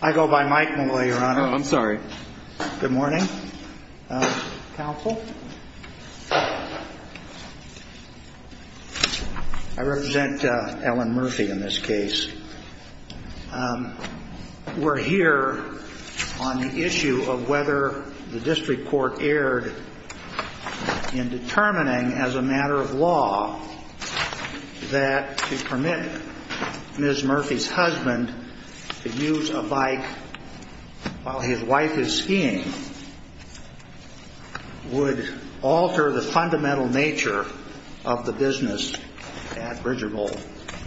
I go by Mike Malloy, your honor. I'm sorry. Good morning, counsel. I represent Ellen Murphy in this case. We're here on the issue of whether the district court erred in determining, as a matter of law, that to permit Ms. Murphy's husband to use the bike while his wife is skiing would alter the fundamental nature of the business at Bridger Bowl.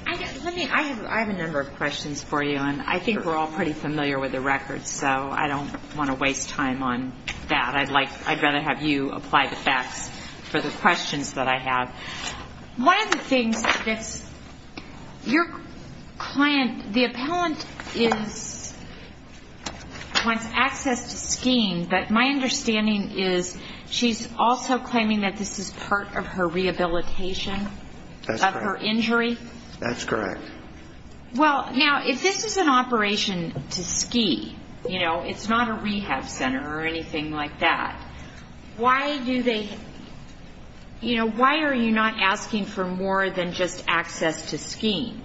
I have a number of questions for you, and I think we're all pretty familiar with the records, so I don't want to waste time on that. I'd rather have you apply the facts for the questions that I have. One of the things that your client, the appellant wants access to skiing, but my understanding is she's also claiming that this is part of her rehabilitation of her injury? That's correct. Well, now, if this is an operation to ski, you know, it's not a rehab center or anything like that, why do they, you know, why are you not asking for more than just access to skiing?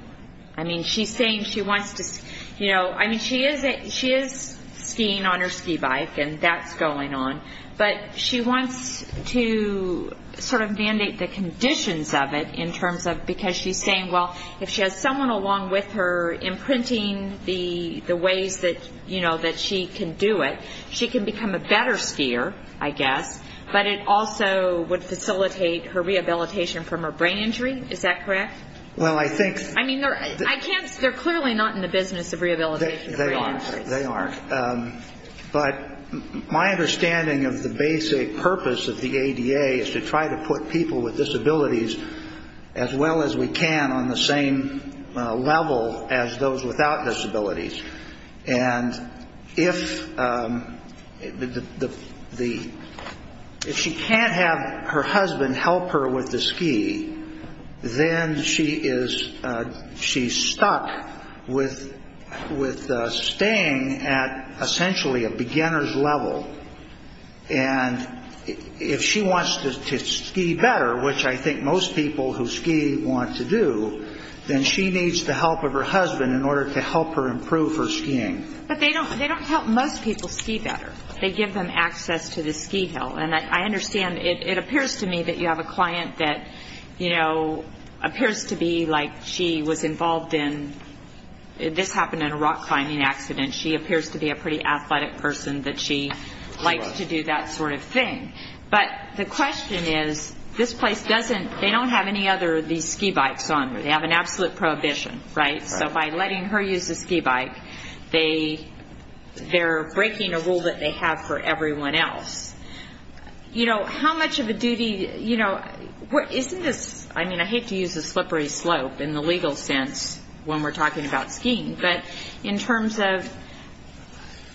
I mean, she's saying she wants to, you know, I mean, she is skiing on her ski bike, and that's going on, but she wants to sort of mandate the conditions of it in terms of, because she's saying, well, if she has someone along with her imprinting the ways that, you know, that she can do it, she can become a better skier, I guess, but it also would facilitate her rehabilitation from her brain injury? Is that correct? Well, I think I mean, they're, I can't, they're clearly not in the business of rehabilitation from brain injuries. But my understanding of the basic purpose of the ADA is to try to put people with disabilities as well as we can on the same level as those without disabilities. And if the, if she can't have her husband help her with the ski, then she is, she's stuck with staying at essentially a beginner's level. And if she wants to ski better, which I think most people who ski want to do, then she needs the help of her husband in order to help her improve her skiing. But they don't, they don't help most people ski better. They give them access to the ski hill. And I understand, it appears to me that you have a client that, you know, appears to be like she was involved in, this happened in a rock climbing accident. She appears to be a pretty athletic person that she likes to do that sort of thing. But the question is, this place doesn't, they don't have any other of these ski bikes on. They have an absolute prohibition, right? So by letting her use a ski bike, they, they're breaking a rule that they have for everyone else. You know, how much of a duty, you know, isn't this, I mean, I hate to use the slippery slope in the legal sense when we're talking about skiing. But in terms of,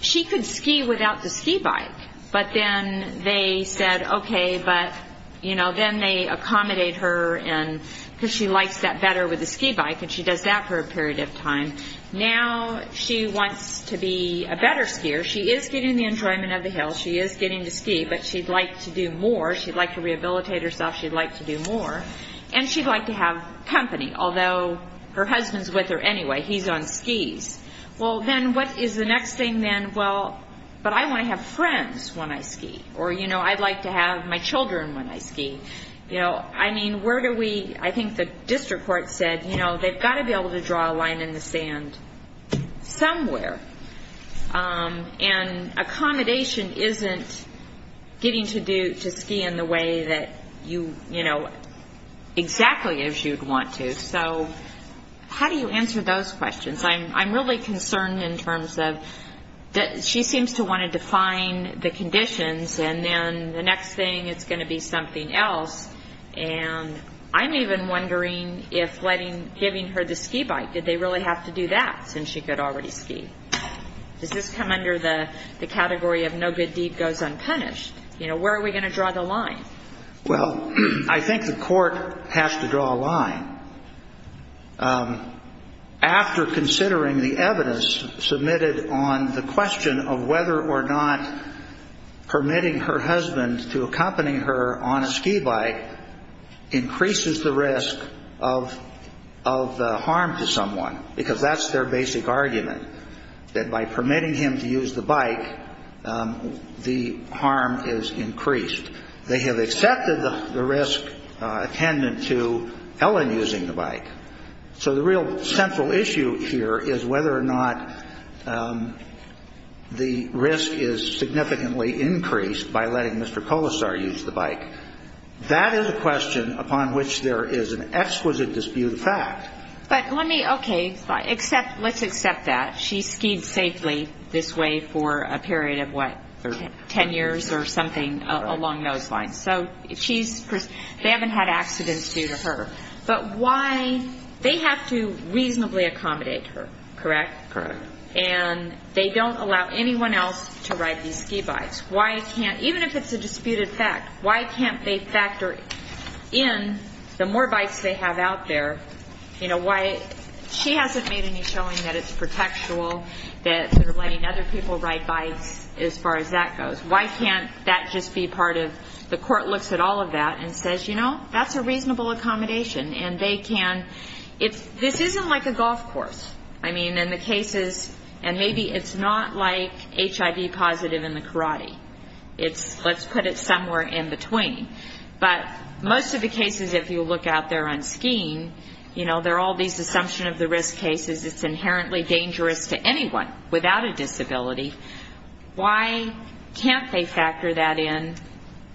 she could ski without the ski bike. But then they said, okay, but, you know, then they accommodate her and, because she likes that better with the ski bike. And she does that for a period of time. Now she wants to be a better skier. She is getting the enjoyment of the hill. She is getting to ski, but she'd like to do more. She'd like to rehabilitate herself. She'd like to do more. And she'd like to have company, although her husband's with her anyway. He's on skis. Well, then what is the next thing then? Well, but I want to have friends when I ski. Or, you know, I'd like to have my children when I ski. You know, I mean, where do we, I think the district court said, you know, they've got to be able to draw a line in the sand somewhere. And accommodation isn't getting to ski in the way that you, you know, exactly as you'd want to. So how do you answer those questions? I'm really concerned in terms of that she seems to want to define the conditions, and then the next thing it's going to be something else. And I'm even wondering if letting, giving her the ski bike, did they really have to do that since she could already ski? Does this come under the category of no good deed goes unpunished? You know, where are we going to draw the line? Well, I think the court has to draw a line. After considering the evidence submitted on the question of whether or not permitting her husband to accompany her on a ski bike increases the risk of harm to someone, because that's their basic argument, that by permitting him to use the bike, the harm is increased. They have accepted the risk attendant to Ellen using the bike. So the real central issue here is whether or not the risk is significantly increased by letting Mr. Colasar use the bike. That is a question upon which there is an exquisite disputed fact. But let me, okay, let's accept that. She skied safely this way for a period of, what, 10 years or something along those lines. So she's, they haven't had accidents due to her. But why, they have to reasonably accommodate her, correct? Correct. And they don't allow anyone else to ride these ski bikes. Why can't, even if it's a disputed fact, why can't they factor in the more bikes they have out there? You know, why, she hasn't made any showing that it's protectual, that sort of letting other people ride bikes as far as that goes. Why can't that just be part of, the court looks at all of that and says, you know, that's a reasonable accommodation. And they can, it's, this isn't like a golf course. I mean, in the cases, and maybe it's not like HIV positive in the karate. It's, let's put it somewhere in between. But most of the cases, if you look out there on skiing, you know, there are all these assumptions of the risk cases. It's inherently dangerous to anyone without a disability. Why can't they factor that in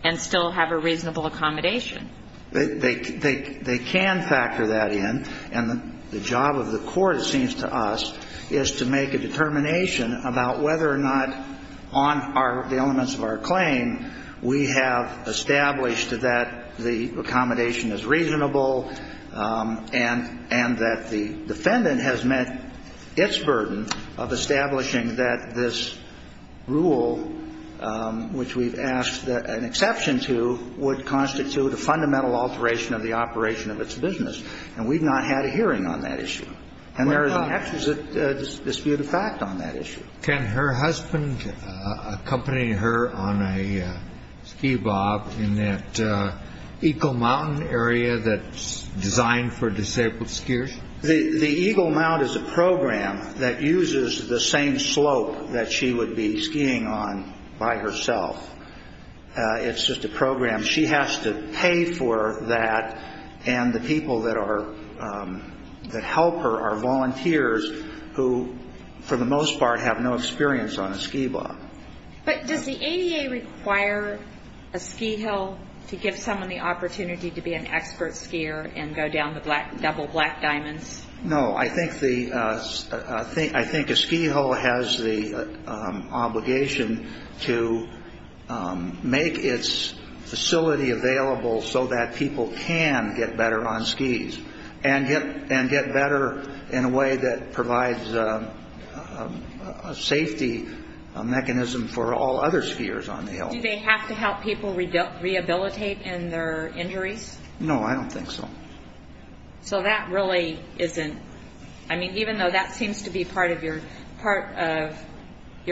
and still have a reasonable accommodation? They can factor that in. And the job of the court, it seems to us, is to make a determination about whether or not on the elements of our claim, we have established that the accommodation is reasonable and that the defendant has met its burden of establishing that this rule, which we've asked an exception to, would constitute a fundamental alteration of the operation of its business. And we've not had a hearing on that issue. And there is an exquisite disputed fact on that issue. Can her husband accompany her on a ski bob in that Eagle Mountain area that's designed for disabled skiers? The Eagle Mount is a program that uses the same slope that she would be skiing on by herself. It's just a program. She has to pay for that, and the people that help her are volunteers who, for the most part, have no experience on a ski bob. But does the ADA require a ski hill to give someone the opportunity to be an expert skier and go down the double black diamonds? No. I think a ski hill has the obligation to make its facility available so that people can get better on skis and get better in a way that provides a safety mechanism for all other skiers on the hill. Do they have to help people rehabilitate in their injuries? No, I don't think so. So that really isn't, I mean, even though that seems to be part of your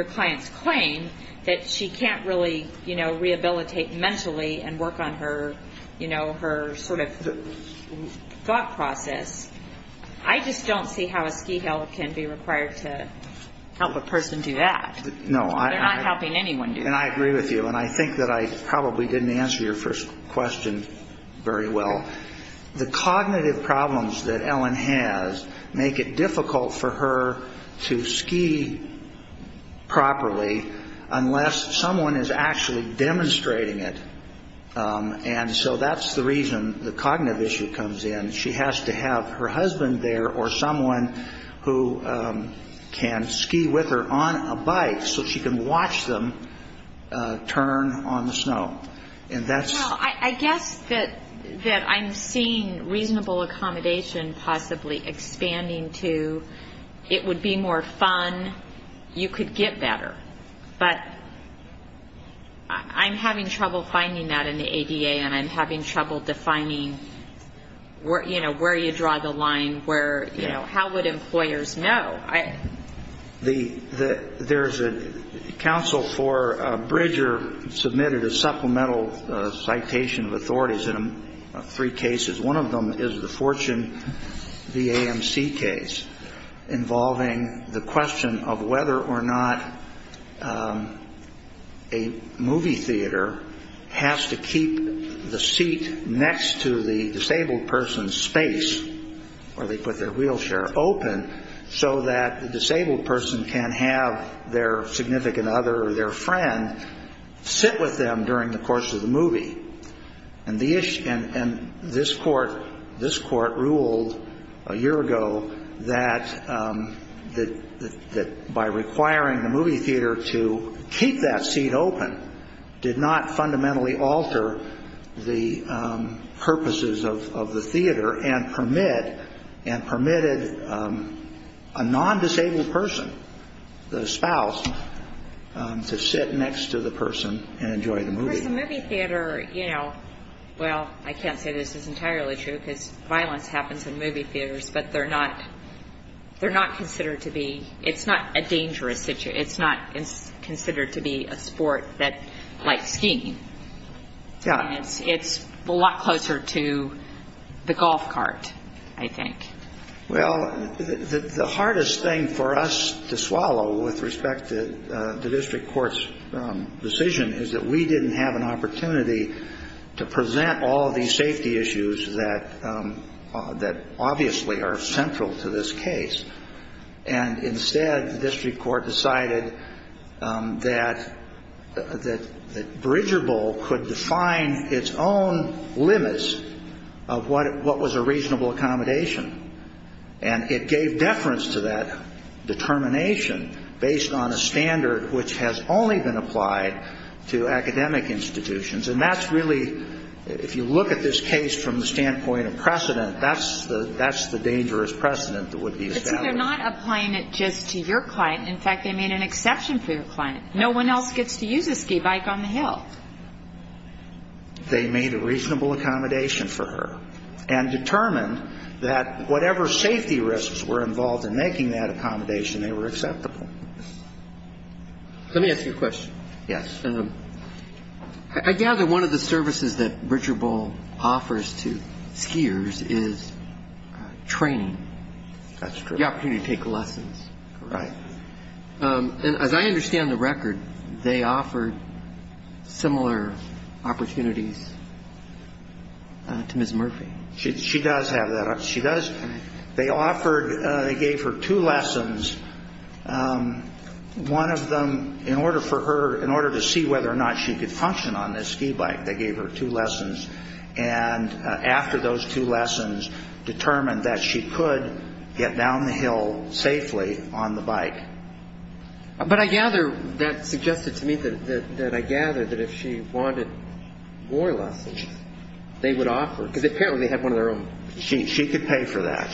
client's claim, that she can't really, you know, rehabilitate mentally and work on her, you know, her sort of thought process. I just don't see how a ski hill can be required to help a person do that. No. They're not helping anyone do that. And I agree with you, and I think that I probably didn't answer your first question very well. The cognitive problems that Ellen has make it difficult for her to ski properly unless someone is actually demonstrating it. And so that's the reason the cognitive issue comes in. And she has to have her husband there or someone who can ski with her on a bike so she can watch them turn on the snow. And that's... Well, I guess that I'm seeing reasonable accommodation possibly expanding to it would be more fun, you could get better. But I'm having trouble finding that in the ADA, and I'm having trouble defining, you know, where you draw the line, where, you know, how would employers know? There's a counsel for Bridger submitted a supplemental citation of authorities in three cases. One of them is the Fortune VAMC case involving the question of whether or not a movie theater has to keep the seat next to the disabled person's space where they put their wheelchair open so that the disabled person can have their significant other or their friend sit with them during the course of the movie. And this court ruled a year ago that by requiring the movie theater to keep that seat open did not fundamentally alter the purposes of the theater and permitted a non-disabled person, the spouse, to sit next to the person and enjoy the movie. Because a movie theater, you know, well, I can't say this is entirely true because violence happens in movie theaters, but they're not considered to be... It's not a dangerous... It's not considered to be a sport like skiing. It's a lot closer to the golf cart, I think. Well, the hardest thing for us to swallow with respect to the district court's decision is that we didn't have an opportunity to present all of these safety issues that obviously are central to this case. And instead, the district court decided that Bridger Bowl could define its own limits of what was a reasonable accommodation. And it gave deference to that determination based on a standard which has only been applied to academic institutions. And that's really, if you look at this case from the standpoint of precedent, that's the dangerous precedent that would be established. But see, they're not applying it just to your client. In fact, they made an exception for your client. No one else gets to use a ski bike on the hill. They made a reasonable accommodation for her and determined that whatever safety risks were involved in making that accommodation, they were acceptable. Let me ask you a question. Yes. I gather one of the services that Bridger Bowl offers to skiers is training. That's true. The opportunity to take lessons. Right. And as I understand the record, they offered similar opportunities to Ms. Murphy. She does have that. They gave her two lessons, one of them in order to see whether or not she could function on this ski bike. They gave her two lessons. And after those two lessons determined that she could get down the hill safely on the bike. But I gather that suggested to me that I gather that if she wanted more lessons, they would offer. Because apparently they had one of their own. She could pay for that.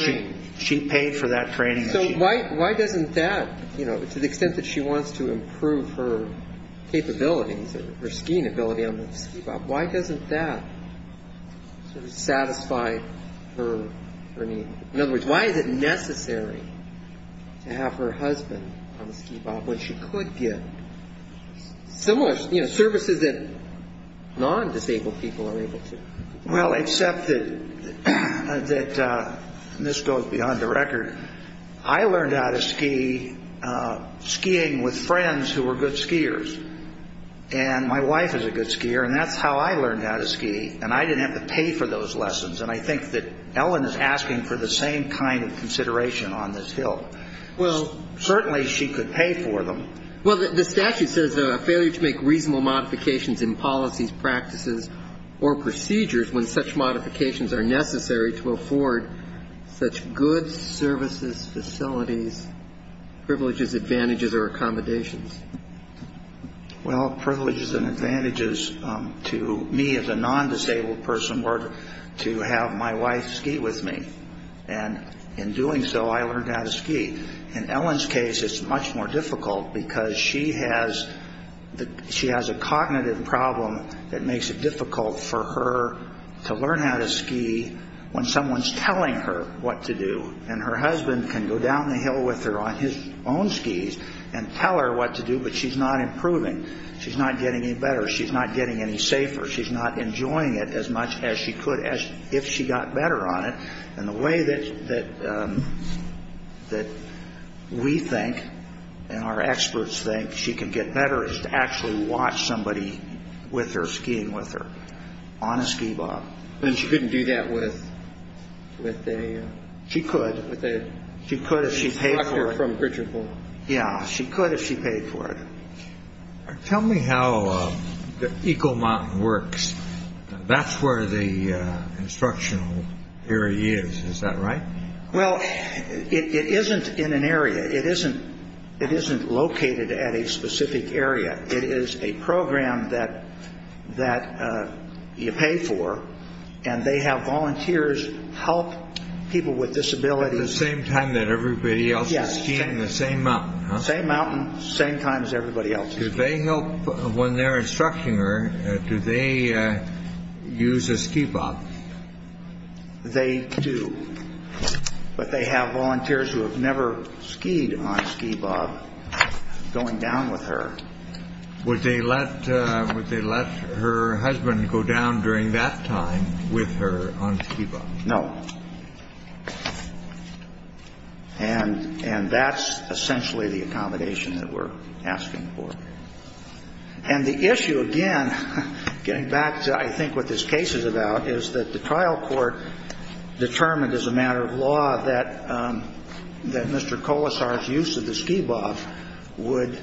She paid for that training. So why doesn't that, you know, to the extent that she wants to improve her capabilities or her skiing ability on the ski bike, why doesn't that sort of satisfy her needs? In other words, why is it necessary to have her husband on the ski bike when she could get similar services that non-disabled people are able to? Well, except that this goes beyond the record. I learned how to ski skiing with friends who were good skiers. And my wife is a good skier, and that's how I learned how to ski. And I didn't have to pay for those lessons. And I think that Ellen is asking for the same kind of consideration on this hill. Well. Certainly she could pay for them. Well, the statute says a failure to make reasonable modifications in policies, practices, or procedures when such modifications are necessary to afford such goods, services, facilities, privileges, advantages, or accommodations. Well, privileges and advantages to me as a non-disabled person were to have my wife ski with me. And in doing so, I learned how to ski. In Ellen's case, it's much more difficult because she has a cognitive problem that makes it difficult for her to learn how to ski when someone's telling her what to do. And her husband can go down the hill with her on his own skis and tell her what to do, but she's not improving. She's not getting any better. She's not getting any safer. She's not enjoying it as much as she could if she got better on it. And the way that we think and our experts think she can get better is to actually watch somebody with her skiing with her on a ski bob. And she couldn't do that with a instructor from Gritchenville? Yeah, she could if she paid for it. Tell me how the Eagle Mountain works. That's where the instructional area is, is that right? Well, it isn't in an area. It isn't located at a specific area. It is a program that you pay for, and they have volunteers help people with disabilities. At the same time that everybody else is skiing the same mountain, huh? Same mountain, same time as everybody else is skiing. When they're instructing her, do they use a ski bob? They do, but they have volunteers who have never skied on a ski bob going down with her. Would they let her husband go down during that time with her on a ski bob? No. And that's essentially the accommodation that we're asking for. And the issue, again, getting back to I think what this case is about, is that the trial court determined as a matter of law that Mr. Colasar's use of the ski bob would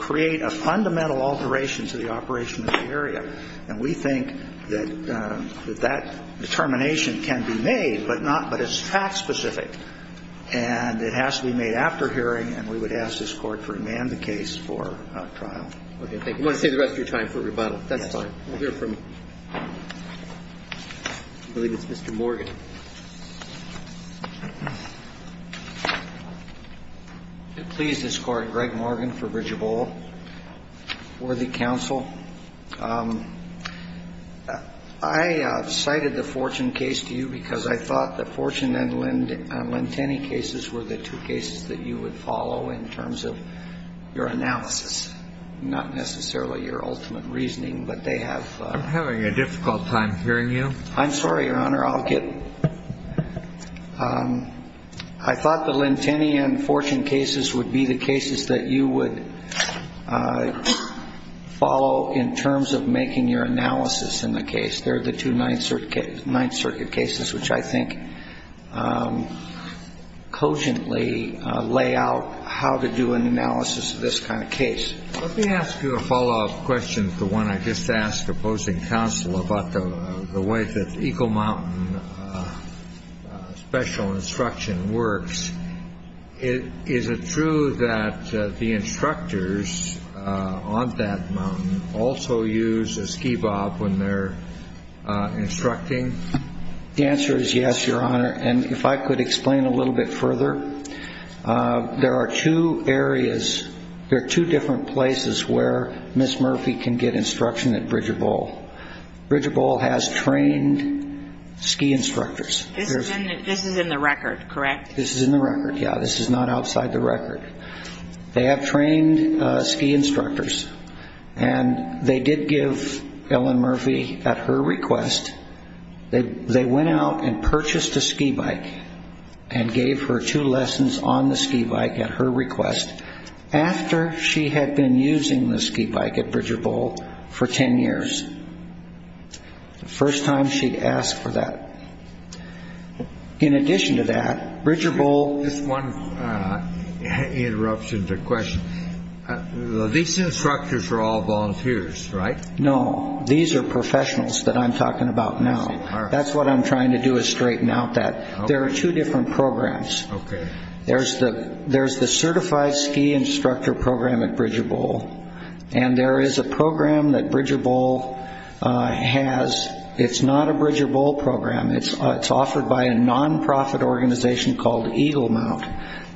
create a fundamental alteration to the operation of the area. And we think that that determination can be made, but it's fact specific. And it has to be made after hearing, and we would ask this Court to demand the case for trial. Okay. Thank you. I want to save the rest of your time for rebuttal. That's fine. We'll hear from, I believe it's Mr. Morgan. Please, this is Greg Morgan for Bridgeable, worthy counsel. I cited the Fortune case to you because I thought that Fortune and Lentenny cases were the two cases that you would follow in terms of your analysis, not necessarily your ultimate reasoning, but they have ---- I'm having a difficult time hearing you. I'm sorry, Your Honor. I'll get ---- I thought the Lentenny and Fortune cases would be the cases that you would follow in terms of making your analysis in the case. They're the two Ninth Circuit cases, which I think cogently lay out how to do an analysis of this kind of case. Let me ask you a follow-up question to one I just asked opposing counsel about the way that Eagle Mountain special instruction works. Is it true that the instructors on that mountain also use a ski bob when they're instructing? The answer is yes, Your Honor. And if I could explain a little bit further, there are two areas, there are two different places where Ms. Murphy can get instruction at Bridger Bowl. Bridger Bowl has trained ski instructors. This is in the record, correct? This is in the record, yeah. This is not outside the record. They have trained ski instructors, and they did give Ellen Murphy at her request, they went out and purchased a ski bike and gave her two lessons on the ski bike at her request, after she had been using the ski bike at Bridger Bowl for ten years, the first time she'd asked for that. In addition to that, Bridger Bowl- Just one interruption to the question. These instructors are all volunteers, right? No, these are professionals that I'm talking about now. That's what I'm trying to do is straighten out that. There are two different programs. Okay. There's the certified ski instructor program at Bridger Bowl, and there is a program that Bridger Bowl has. It's not a Bridger Bowl program. It's offered by a nonprofit organization called Eagle Mount,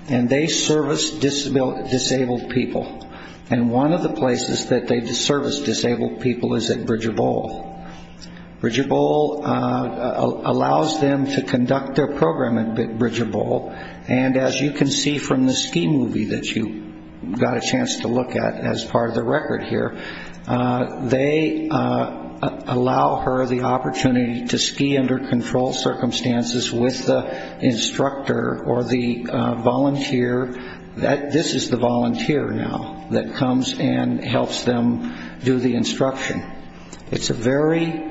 and they service disabled people. And one of the places that they service disabled people is at Bridger Bowl. Bridger Bowl allows them to conduct their program at Bridger Bowl, and as you can see from the ski movie that you got a chance to look at as part of the record here, they allow her the opportunity to ski under controlled circumstances with the instructor or the volunteer. This is the volunteer now that comes and helps them do the instruction. It's a very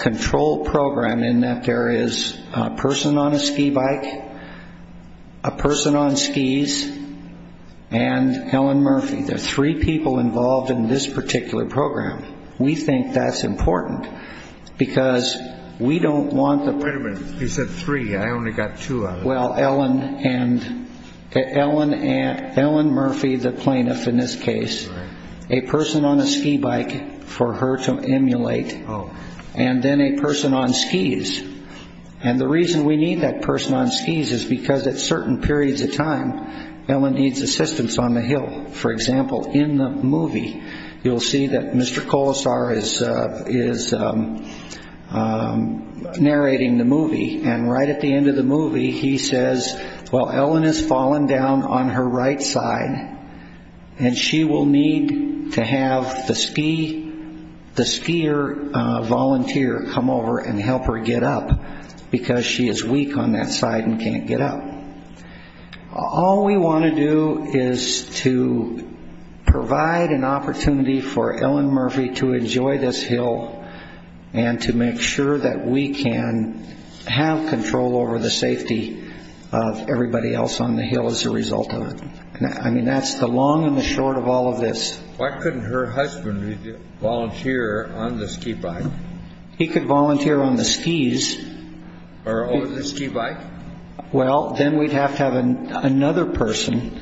controlled program in that there is a person on a ski bike, a person on skis, and Ellen Murphy. There are three people involved in this particular program. We think that's important because we don't want the- Wait a minute. You said three. I only got two of them. Ellen Murphy, the plaintiff in this case, a person on a ski bike for her to emulate, and then a person on skis. And the reason we need that person on skis is because at certain periods of time, Ellen needs assistance on the hill. For example, in the movie, you'll see that Mr. Colasar is narrating the movie, and right at the end of the movie he says, Well, Ellen has fallen down on her right side, and she will need to have the skier volunteer come over and help her get up because she is weak on that side and can't get up. All we want to do is to provide an opportunity for Ellen Murphy to enjoy this hill and to make sure that we can have control over the safety of everybody else on the hill as a result of it. I mean, that's the long and the short of all of this. Why couldn't her husband volunteer on the ski bike? He could volunteer on the skis. Or over the ski bike? Well, then we'd have to have another person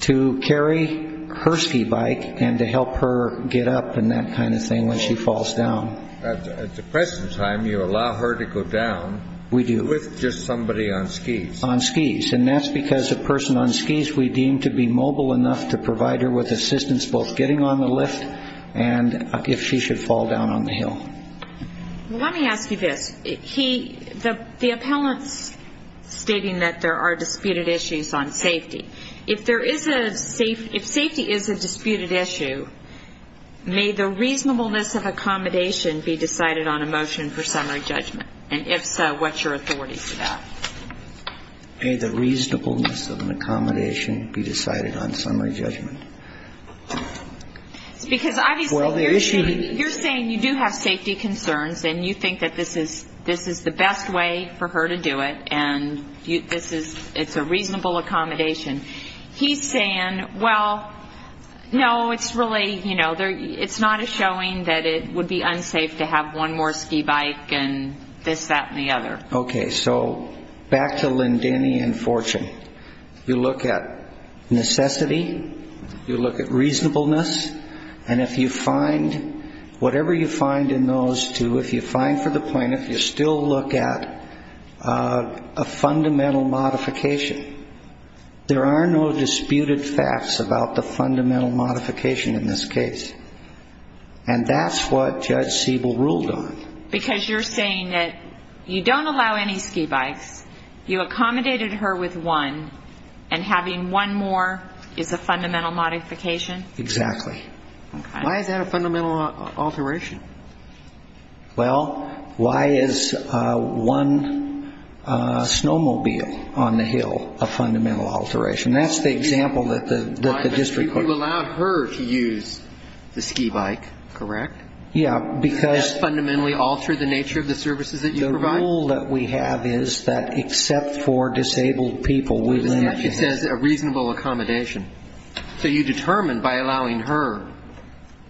to carry her ski bike and to help her get up and that kind of thing when she falls down. At the present time, you allow her to go down with just somebody on skis. On skis, and that's because a person on skis, we deem to be mobile enough to provide her with assistance both getting on the lift and if she should fall down on the hill. Well, let me ask you this. The appellant's stating that there are disputed issues on safety. If there is a safety, if safety is a disputed issue, may the reasonableness of accommodation be decided on a motion for summary judgment? And if so, what's your authority to that? May the reasonableness of an accommodation be decided on summary judgment? Because obviously you're saying you do have safety concerns and you think that this is the best way for her to do it and it's a reasonable accommodation. He's saying, well, no, it's not a showing that it would be unsafe to have one more ski bike and this, that, and the other. Okay, so back to Lindeny and Fortune. You look at necessity, you look at reasonableness, and if you find whatever you find in those two, if you find for the plaintiff, you still look at a fundamental modification. There are no disputed facts about the fundamental modification in this case. And that's what Judge Siebel ruled on. Because you're saying that you don't allow any ski bikes, you accommodated her with one, and having one more is a fundamental modification? Exactly. Why is that a fundamental alteration? Well, why is one snowmobile on the hill a fundamental alteration? That's the example that the district court used. You allowed her to use the ski bike, correct? Yeah, because the rule that we have is that except for disabled people, we limit it. It says a reasonable accommodation. So you determine by allowing her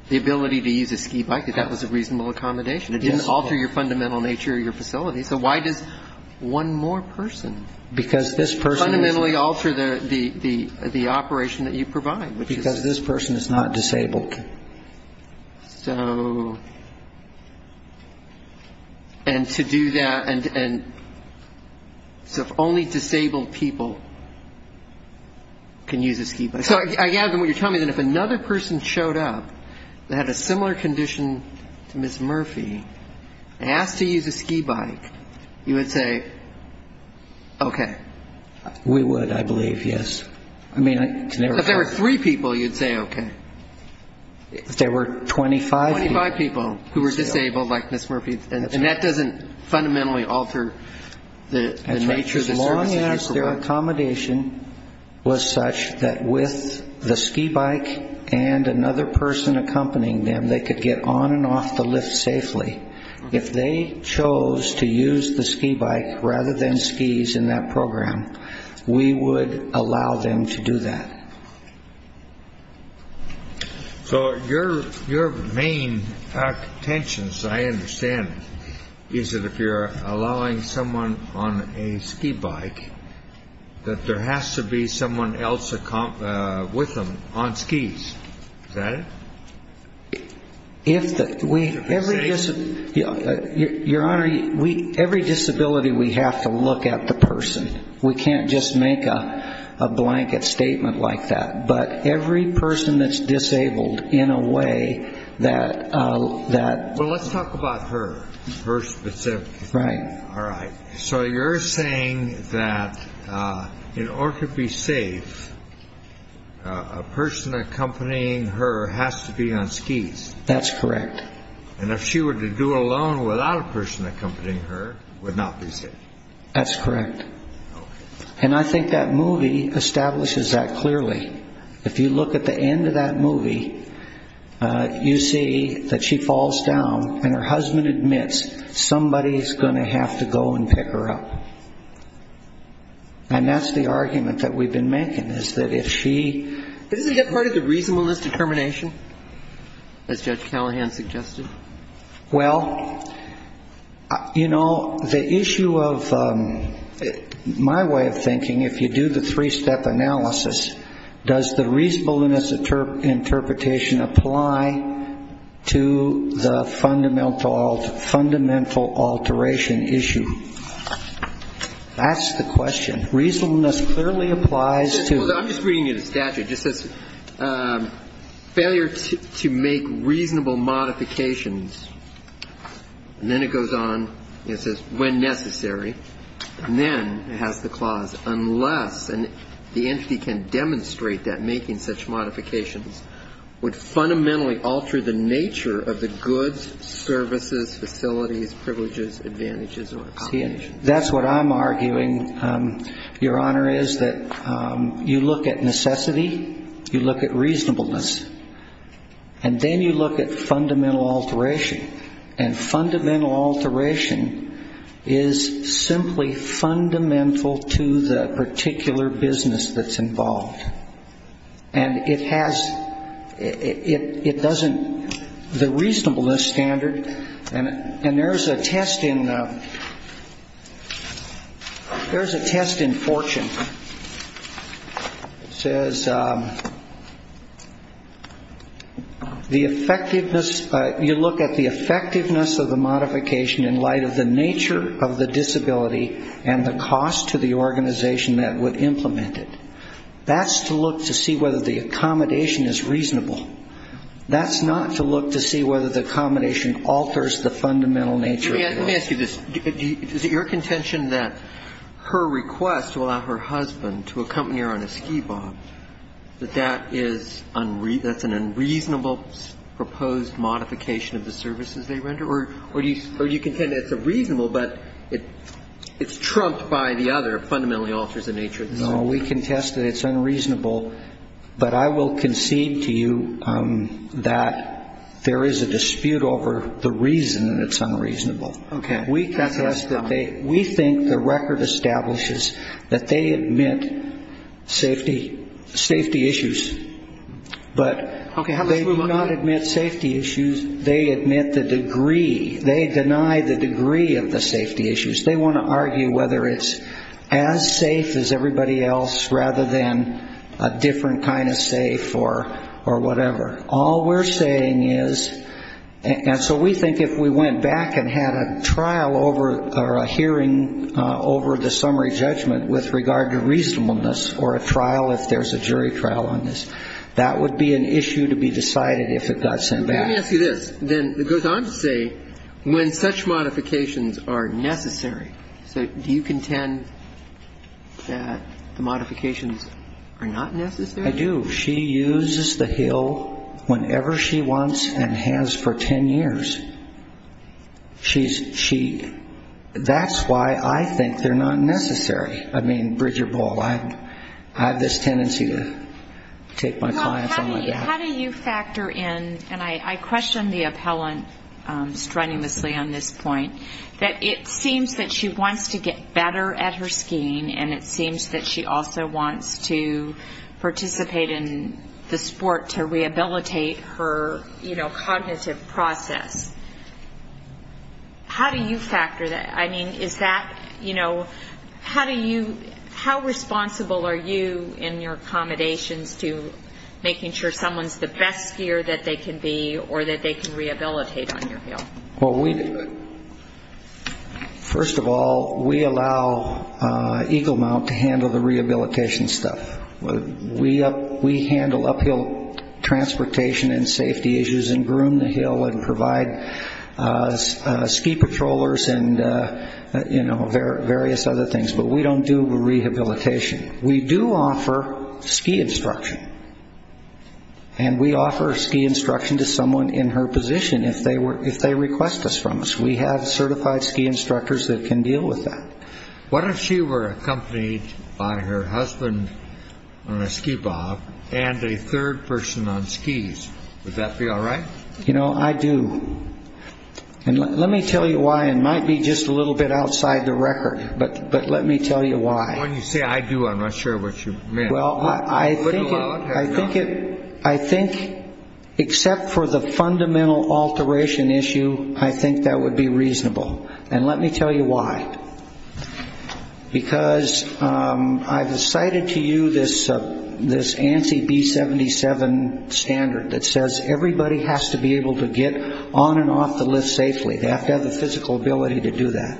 the ability to use a ski bike that that was a reasonable accommodation. It didn't alter your fundamental nature of your facility. So why does one more person fundamentally alter the operation that you provide? Because this person is not disabled. So, and to do that, and so if only disabled people can use a ski bike. So I gather what you're telling me is that if another person showed up that had a similar condition to Ms. Murphy and asked to use a ski bike, you would say, okay. We would, I believe, yes. I mean, if there were three people, you'd say okay. If there were 25 people. 25 people who were disabled like Ms. Murphy. was such that with the ski bike and another person accompanying them, they could get on and off the lift safely. If they chose to use the ski bike rather than skis in that program, we would allow them to do that. So your main tensions, I understand, is that if you're allowing someone on a ski bike, that there has to be someone else with them on skis. Is that it? If the, we, every disability, Your Honor, every disability we have to look at the person. We can't just make a blanket statement like that. But every person that's disabled in a way that. Well, let's talk about her. Her specifically. Right. All right. So you're saying that in order to be safe, a person accompanying her has to be on skis. That's correct. And if she were to do it alone without a person accompanying her, would not be safe. That's correct. And I think that movie establishes that clearly. If you look at the end of that movie, you see that she falls down, and her husband admits somebody is going to have to go and pick her up. And that's the argument that we've been making, is that if she. Isn't that part of the reasonableness determination, as Judge Callahan suggested? Well, you know, the issue of my way of thinking, if you do the three-step analysis, does the reasonableness interpretation apply to the fundamental alteration issue? That's the question. Reasonableness clearly applies to. I'm just reading you the statute. It just says, failure to make reasonable modifications. And then it goes on and it says, when necessary. And then it has the clause, unless the entity can demonstrate that making such modifications would fundamentally alter the nature of the goods, services, facilities, privileges, advantages or obligations. That's what I'm arguing, Your Honor, is that you look at necessity, you look at reasonableness, and then you look at fundamental alteration. And fundamental alteration is simply fundamental to the particular business that's involved. And it has, it doesn't, the reasonableness standard, and there's a test in Fortune. It says, the effectiveness, you look at the effectiveness of the modification in light of the nature of the disability and the cost to the organization that would implement it. That's to look to see whether the accommodation is reasonable. That's not to look to see whether the accommodation alters the fundamental nature of the goods. Let me ask you this. Is it your contention that her request to allow her husband to accompany her on a ski bomb, that that is unreasonable, that's an unreasonable proposed modification of the services they render? Or do you contend it's reasonable, but it's trumped by the other fundamentally alters the nature of the services? No, we contest that it's unreasonable. But I will concede to you that there is a dispute over the reason that it's unreasonable. Okay. We think the record establishes that they admit safety issues. But they do not admit safety issues. They admit the degree, they deny the degree of the safety issues. They want to argue whether it's as safe as everybody else rather than a different kind of safe or whatever. All we're saying is, and so we think if we went back and had a trial over, or a hearing over the summary judgment with regard to reasonableness, or a trial if there's a jury trial on this, that would be an issue to be decided if it got sent back. Let me ask you this. Then it goes on to say when such modifications are necessary. So do you contend that the modifications are not necessary? I do. She uses the hill whenever she wants and has for ten years. She's cheat. That's why I think they're not necessary. I mean, bridge or bowl, I have this tendency to take my clients on like that. How do you factor in, and I question the appellant strenuously on this point, that it seems that she wants to get better at her skiing, and it seems that she also wants to participate in the sport to rehabilitate her cognitive process. How do you factor that? I mean, is that, you know, how do you, how responsible are you in your accommodations to making sure someone's the best skier that they can be or that they can rehabilitate on your hill? First of all, we allow Eagle Mount to handle the rehabilitation stuff. We handle uphill transportation and safety issues and groom the hill and provide ski patrollers and, you know, various other things, but we don't do rehabilitation. We do offer ski instruction, and we offer ski instruction to someone in her position if they request this from us. We have certified ski instructors that can deal with that. What if she were accompanied by her husband on a ski bob and a third person on skis? Would that be all right? You know, I do, and let me tell you why. It might be just a little bit outside the record, but let me tell you why. When you say I do, I'm not sure what you mean. Well, I think it, I think it, I think except for the fundamental alteration issue, I think that would be reasonable, and let me tell you why. Because I've cited to you this ANSI B-77 standard that says everybody has to be able to get on and off the lift safely. They have to have the physical ability to do that.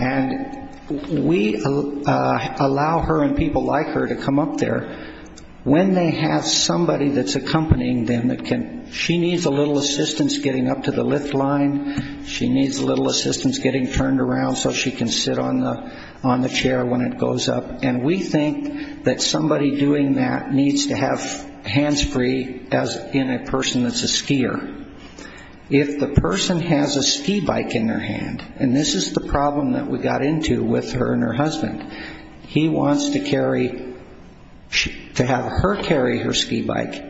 And we allow her and people like her to come up there when they have somebody that's accompanying them that can, she needs a little assistance getting up to the lift line, she needs a little assistance getting turned around so she can sit on the chair when it goes up. And we think that somebody doing that needs to have hands free, as in a person that's a skier. If the person has a ski bike in their hand, and this is the problem that we got into with her and her husband, he wants to carry, to have her carry her ski bike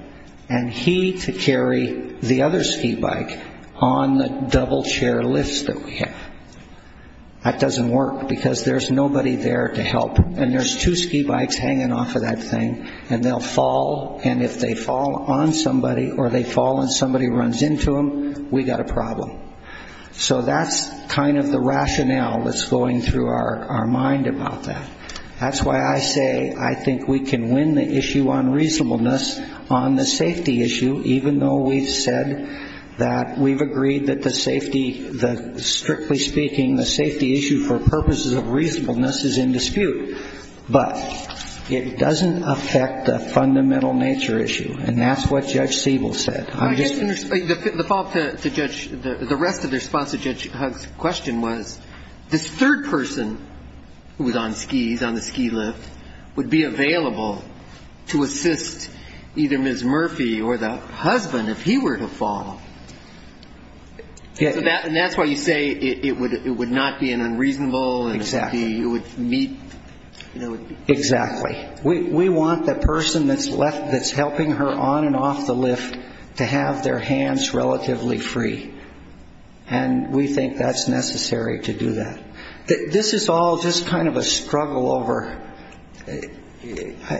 and he to carry the other ski bike on the double chair lifts that we have. That doesn't work because there's nobody there to help. And there's two ski bikes hanging off of that thing, and they'll fall, and if they fall on somebody or they fall and somebody runs into them, we got a problem. So that's kind of the rationale that's going through our mind about that. That's why I say I think we can win the issue on reasonableness on the safety issue, even though we've said that we've agreed that the safety, strictly speaking, the safety issue for purposes of reasonableness is in dispute. But it doesn't affect the fundamental nature issue, and that's what Judge Siebel said. The follow-up to Judge, the rest of the response to Judge Hugg's question was, this third person who was on skis, on the ski lift, would be available to assist either Ms. Murphy or the husband if he were to fall. And that's why you say it would not be an unreasonable and it would meet. Exactly. We want the person that's helping her on and off the lift to have their hands relatively free, and we think that's necessary to do that. This is all just kind of a struggle over,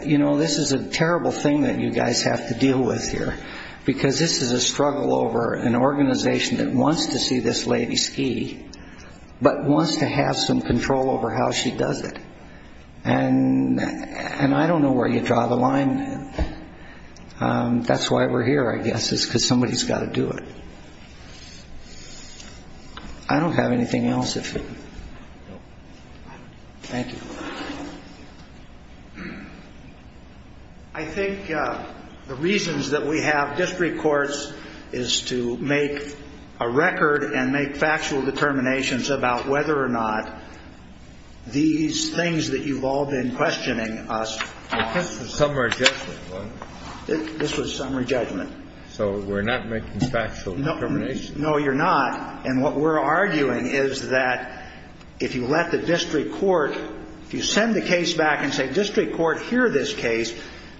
you know, this is a terrible thing that you guys have to deal with here, because this is a struggle over an organization that wants to see this lady ski but wants to have some control over how she does it. And I don't know where you draw the line. That's why we're here, I guess, is because somebody's got to do it. I don't have anything else. Thank you. I think the reasons that we have district courts is to make a record and make factual determinations about whether or not these things that you've all been questioning us. This was summary judgment, wasn't it? This was summary judgment. So we're not making factual determinations? No, you're not. And what we're arguing is that if you let the district court, if you send the case back and say district court, hear this case,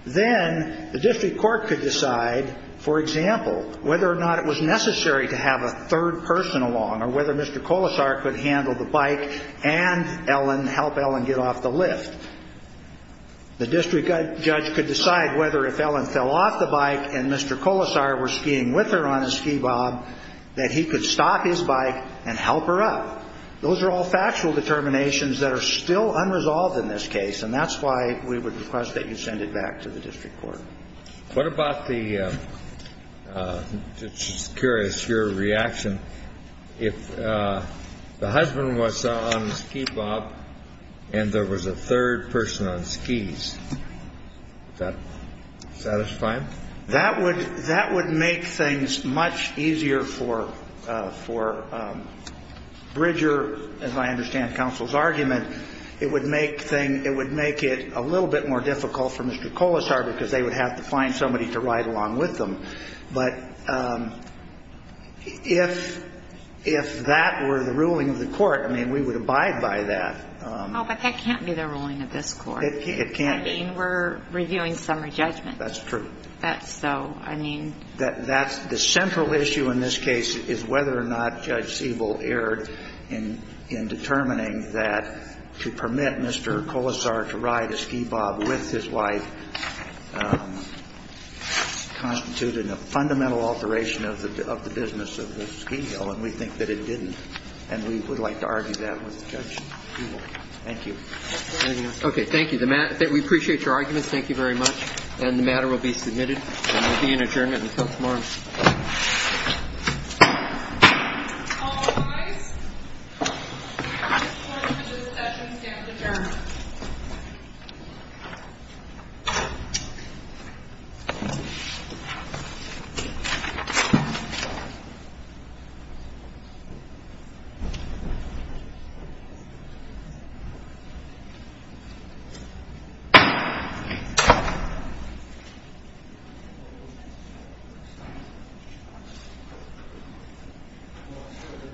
then the district court could decide, for example, whether or not it was necessary to have a third person along or whether Mr. Colasar could handle the bike and help Ellen get off the lift. The district judge could decide whether if Ellen fell off the bike and Mr. Colasar was skiing with her on his ski bob that he could stop his bike and help her up. Those are all factual determinations that are still unresolved in this case, and that's why we would request that you send it back to the district court. What about the, just curious, your reaction, if the husband was on the ski bob and there was a third person on skis, is that satisfying? That would make things much easier for Bridger, as I understand counsel's argument. It would make it a little bit more difficult for Mr. Colasar because they would have to find somebody to ride along with them. But if that were the ruling of the court, I mean, we would abide by that. Oh, but that can't be the ruling of this court. It can't. I mean, we're reviewing summary judgment. That's true. That's so, I mean. The central issue in this case is whether or not Judge Siebel erred in determining that to permit Mr. Colasar to ride a ski bob with his wife that constituted a fundamental alteration of the business of the ski hill, and we think that it didn't. And we would like to argue that with Judge Siebel. Thank you. Okay. Thank you. We appreciate your arguments. Thank you very much. And the matter will be submitted, and there will be an adjournment until tomorrow. All rise. The court for this session stands adjourned. Thank you.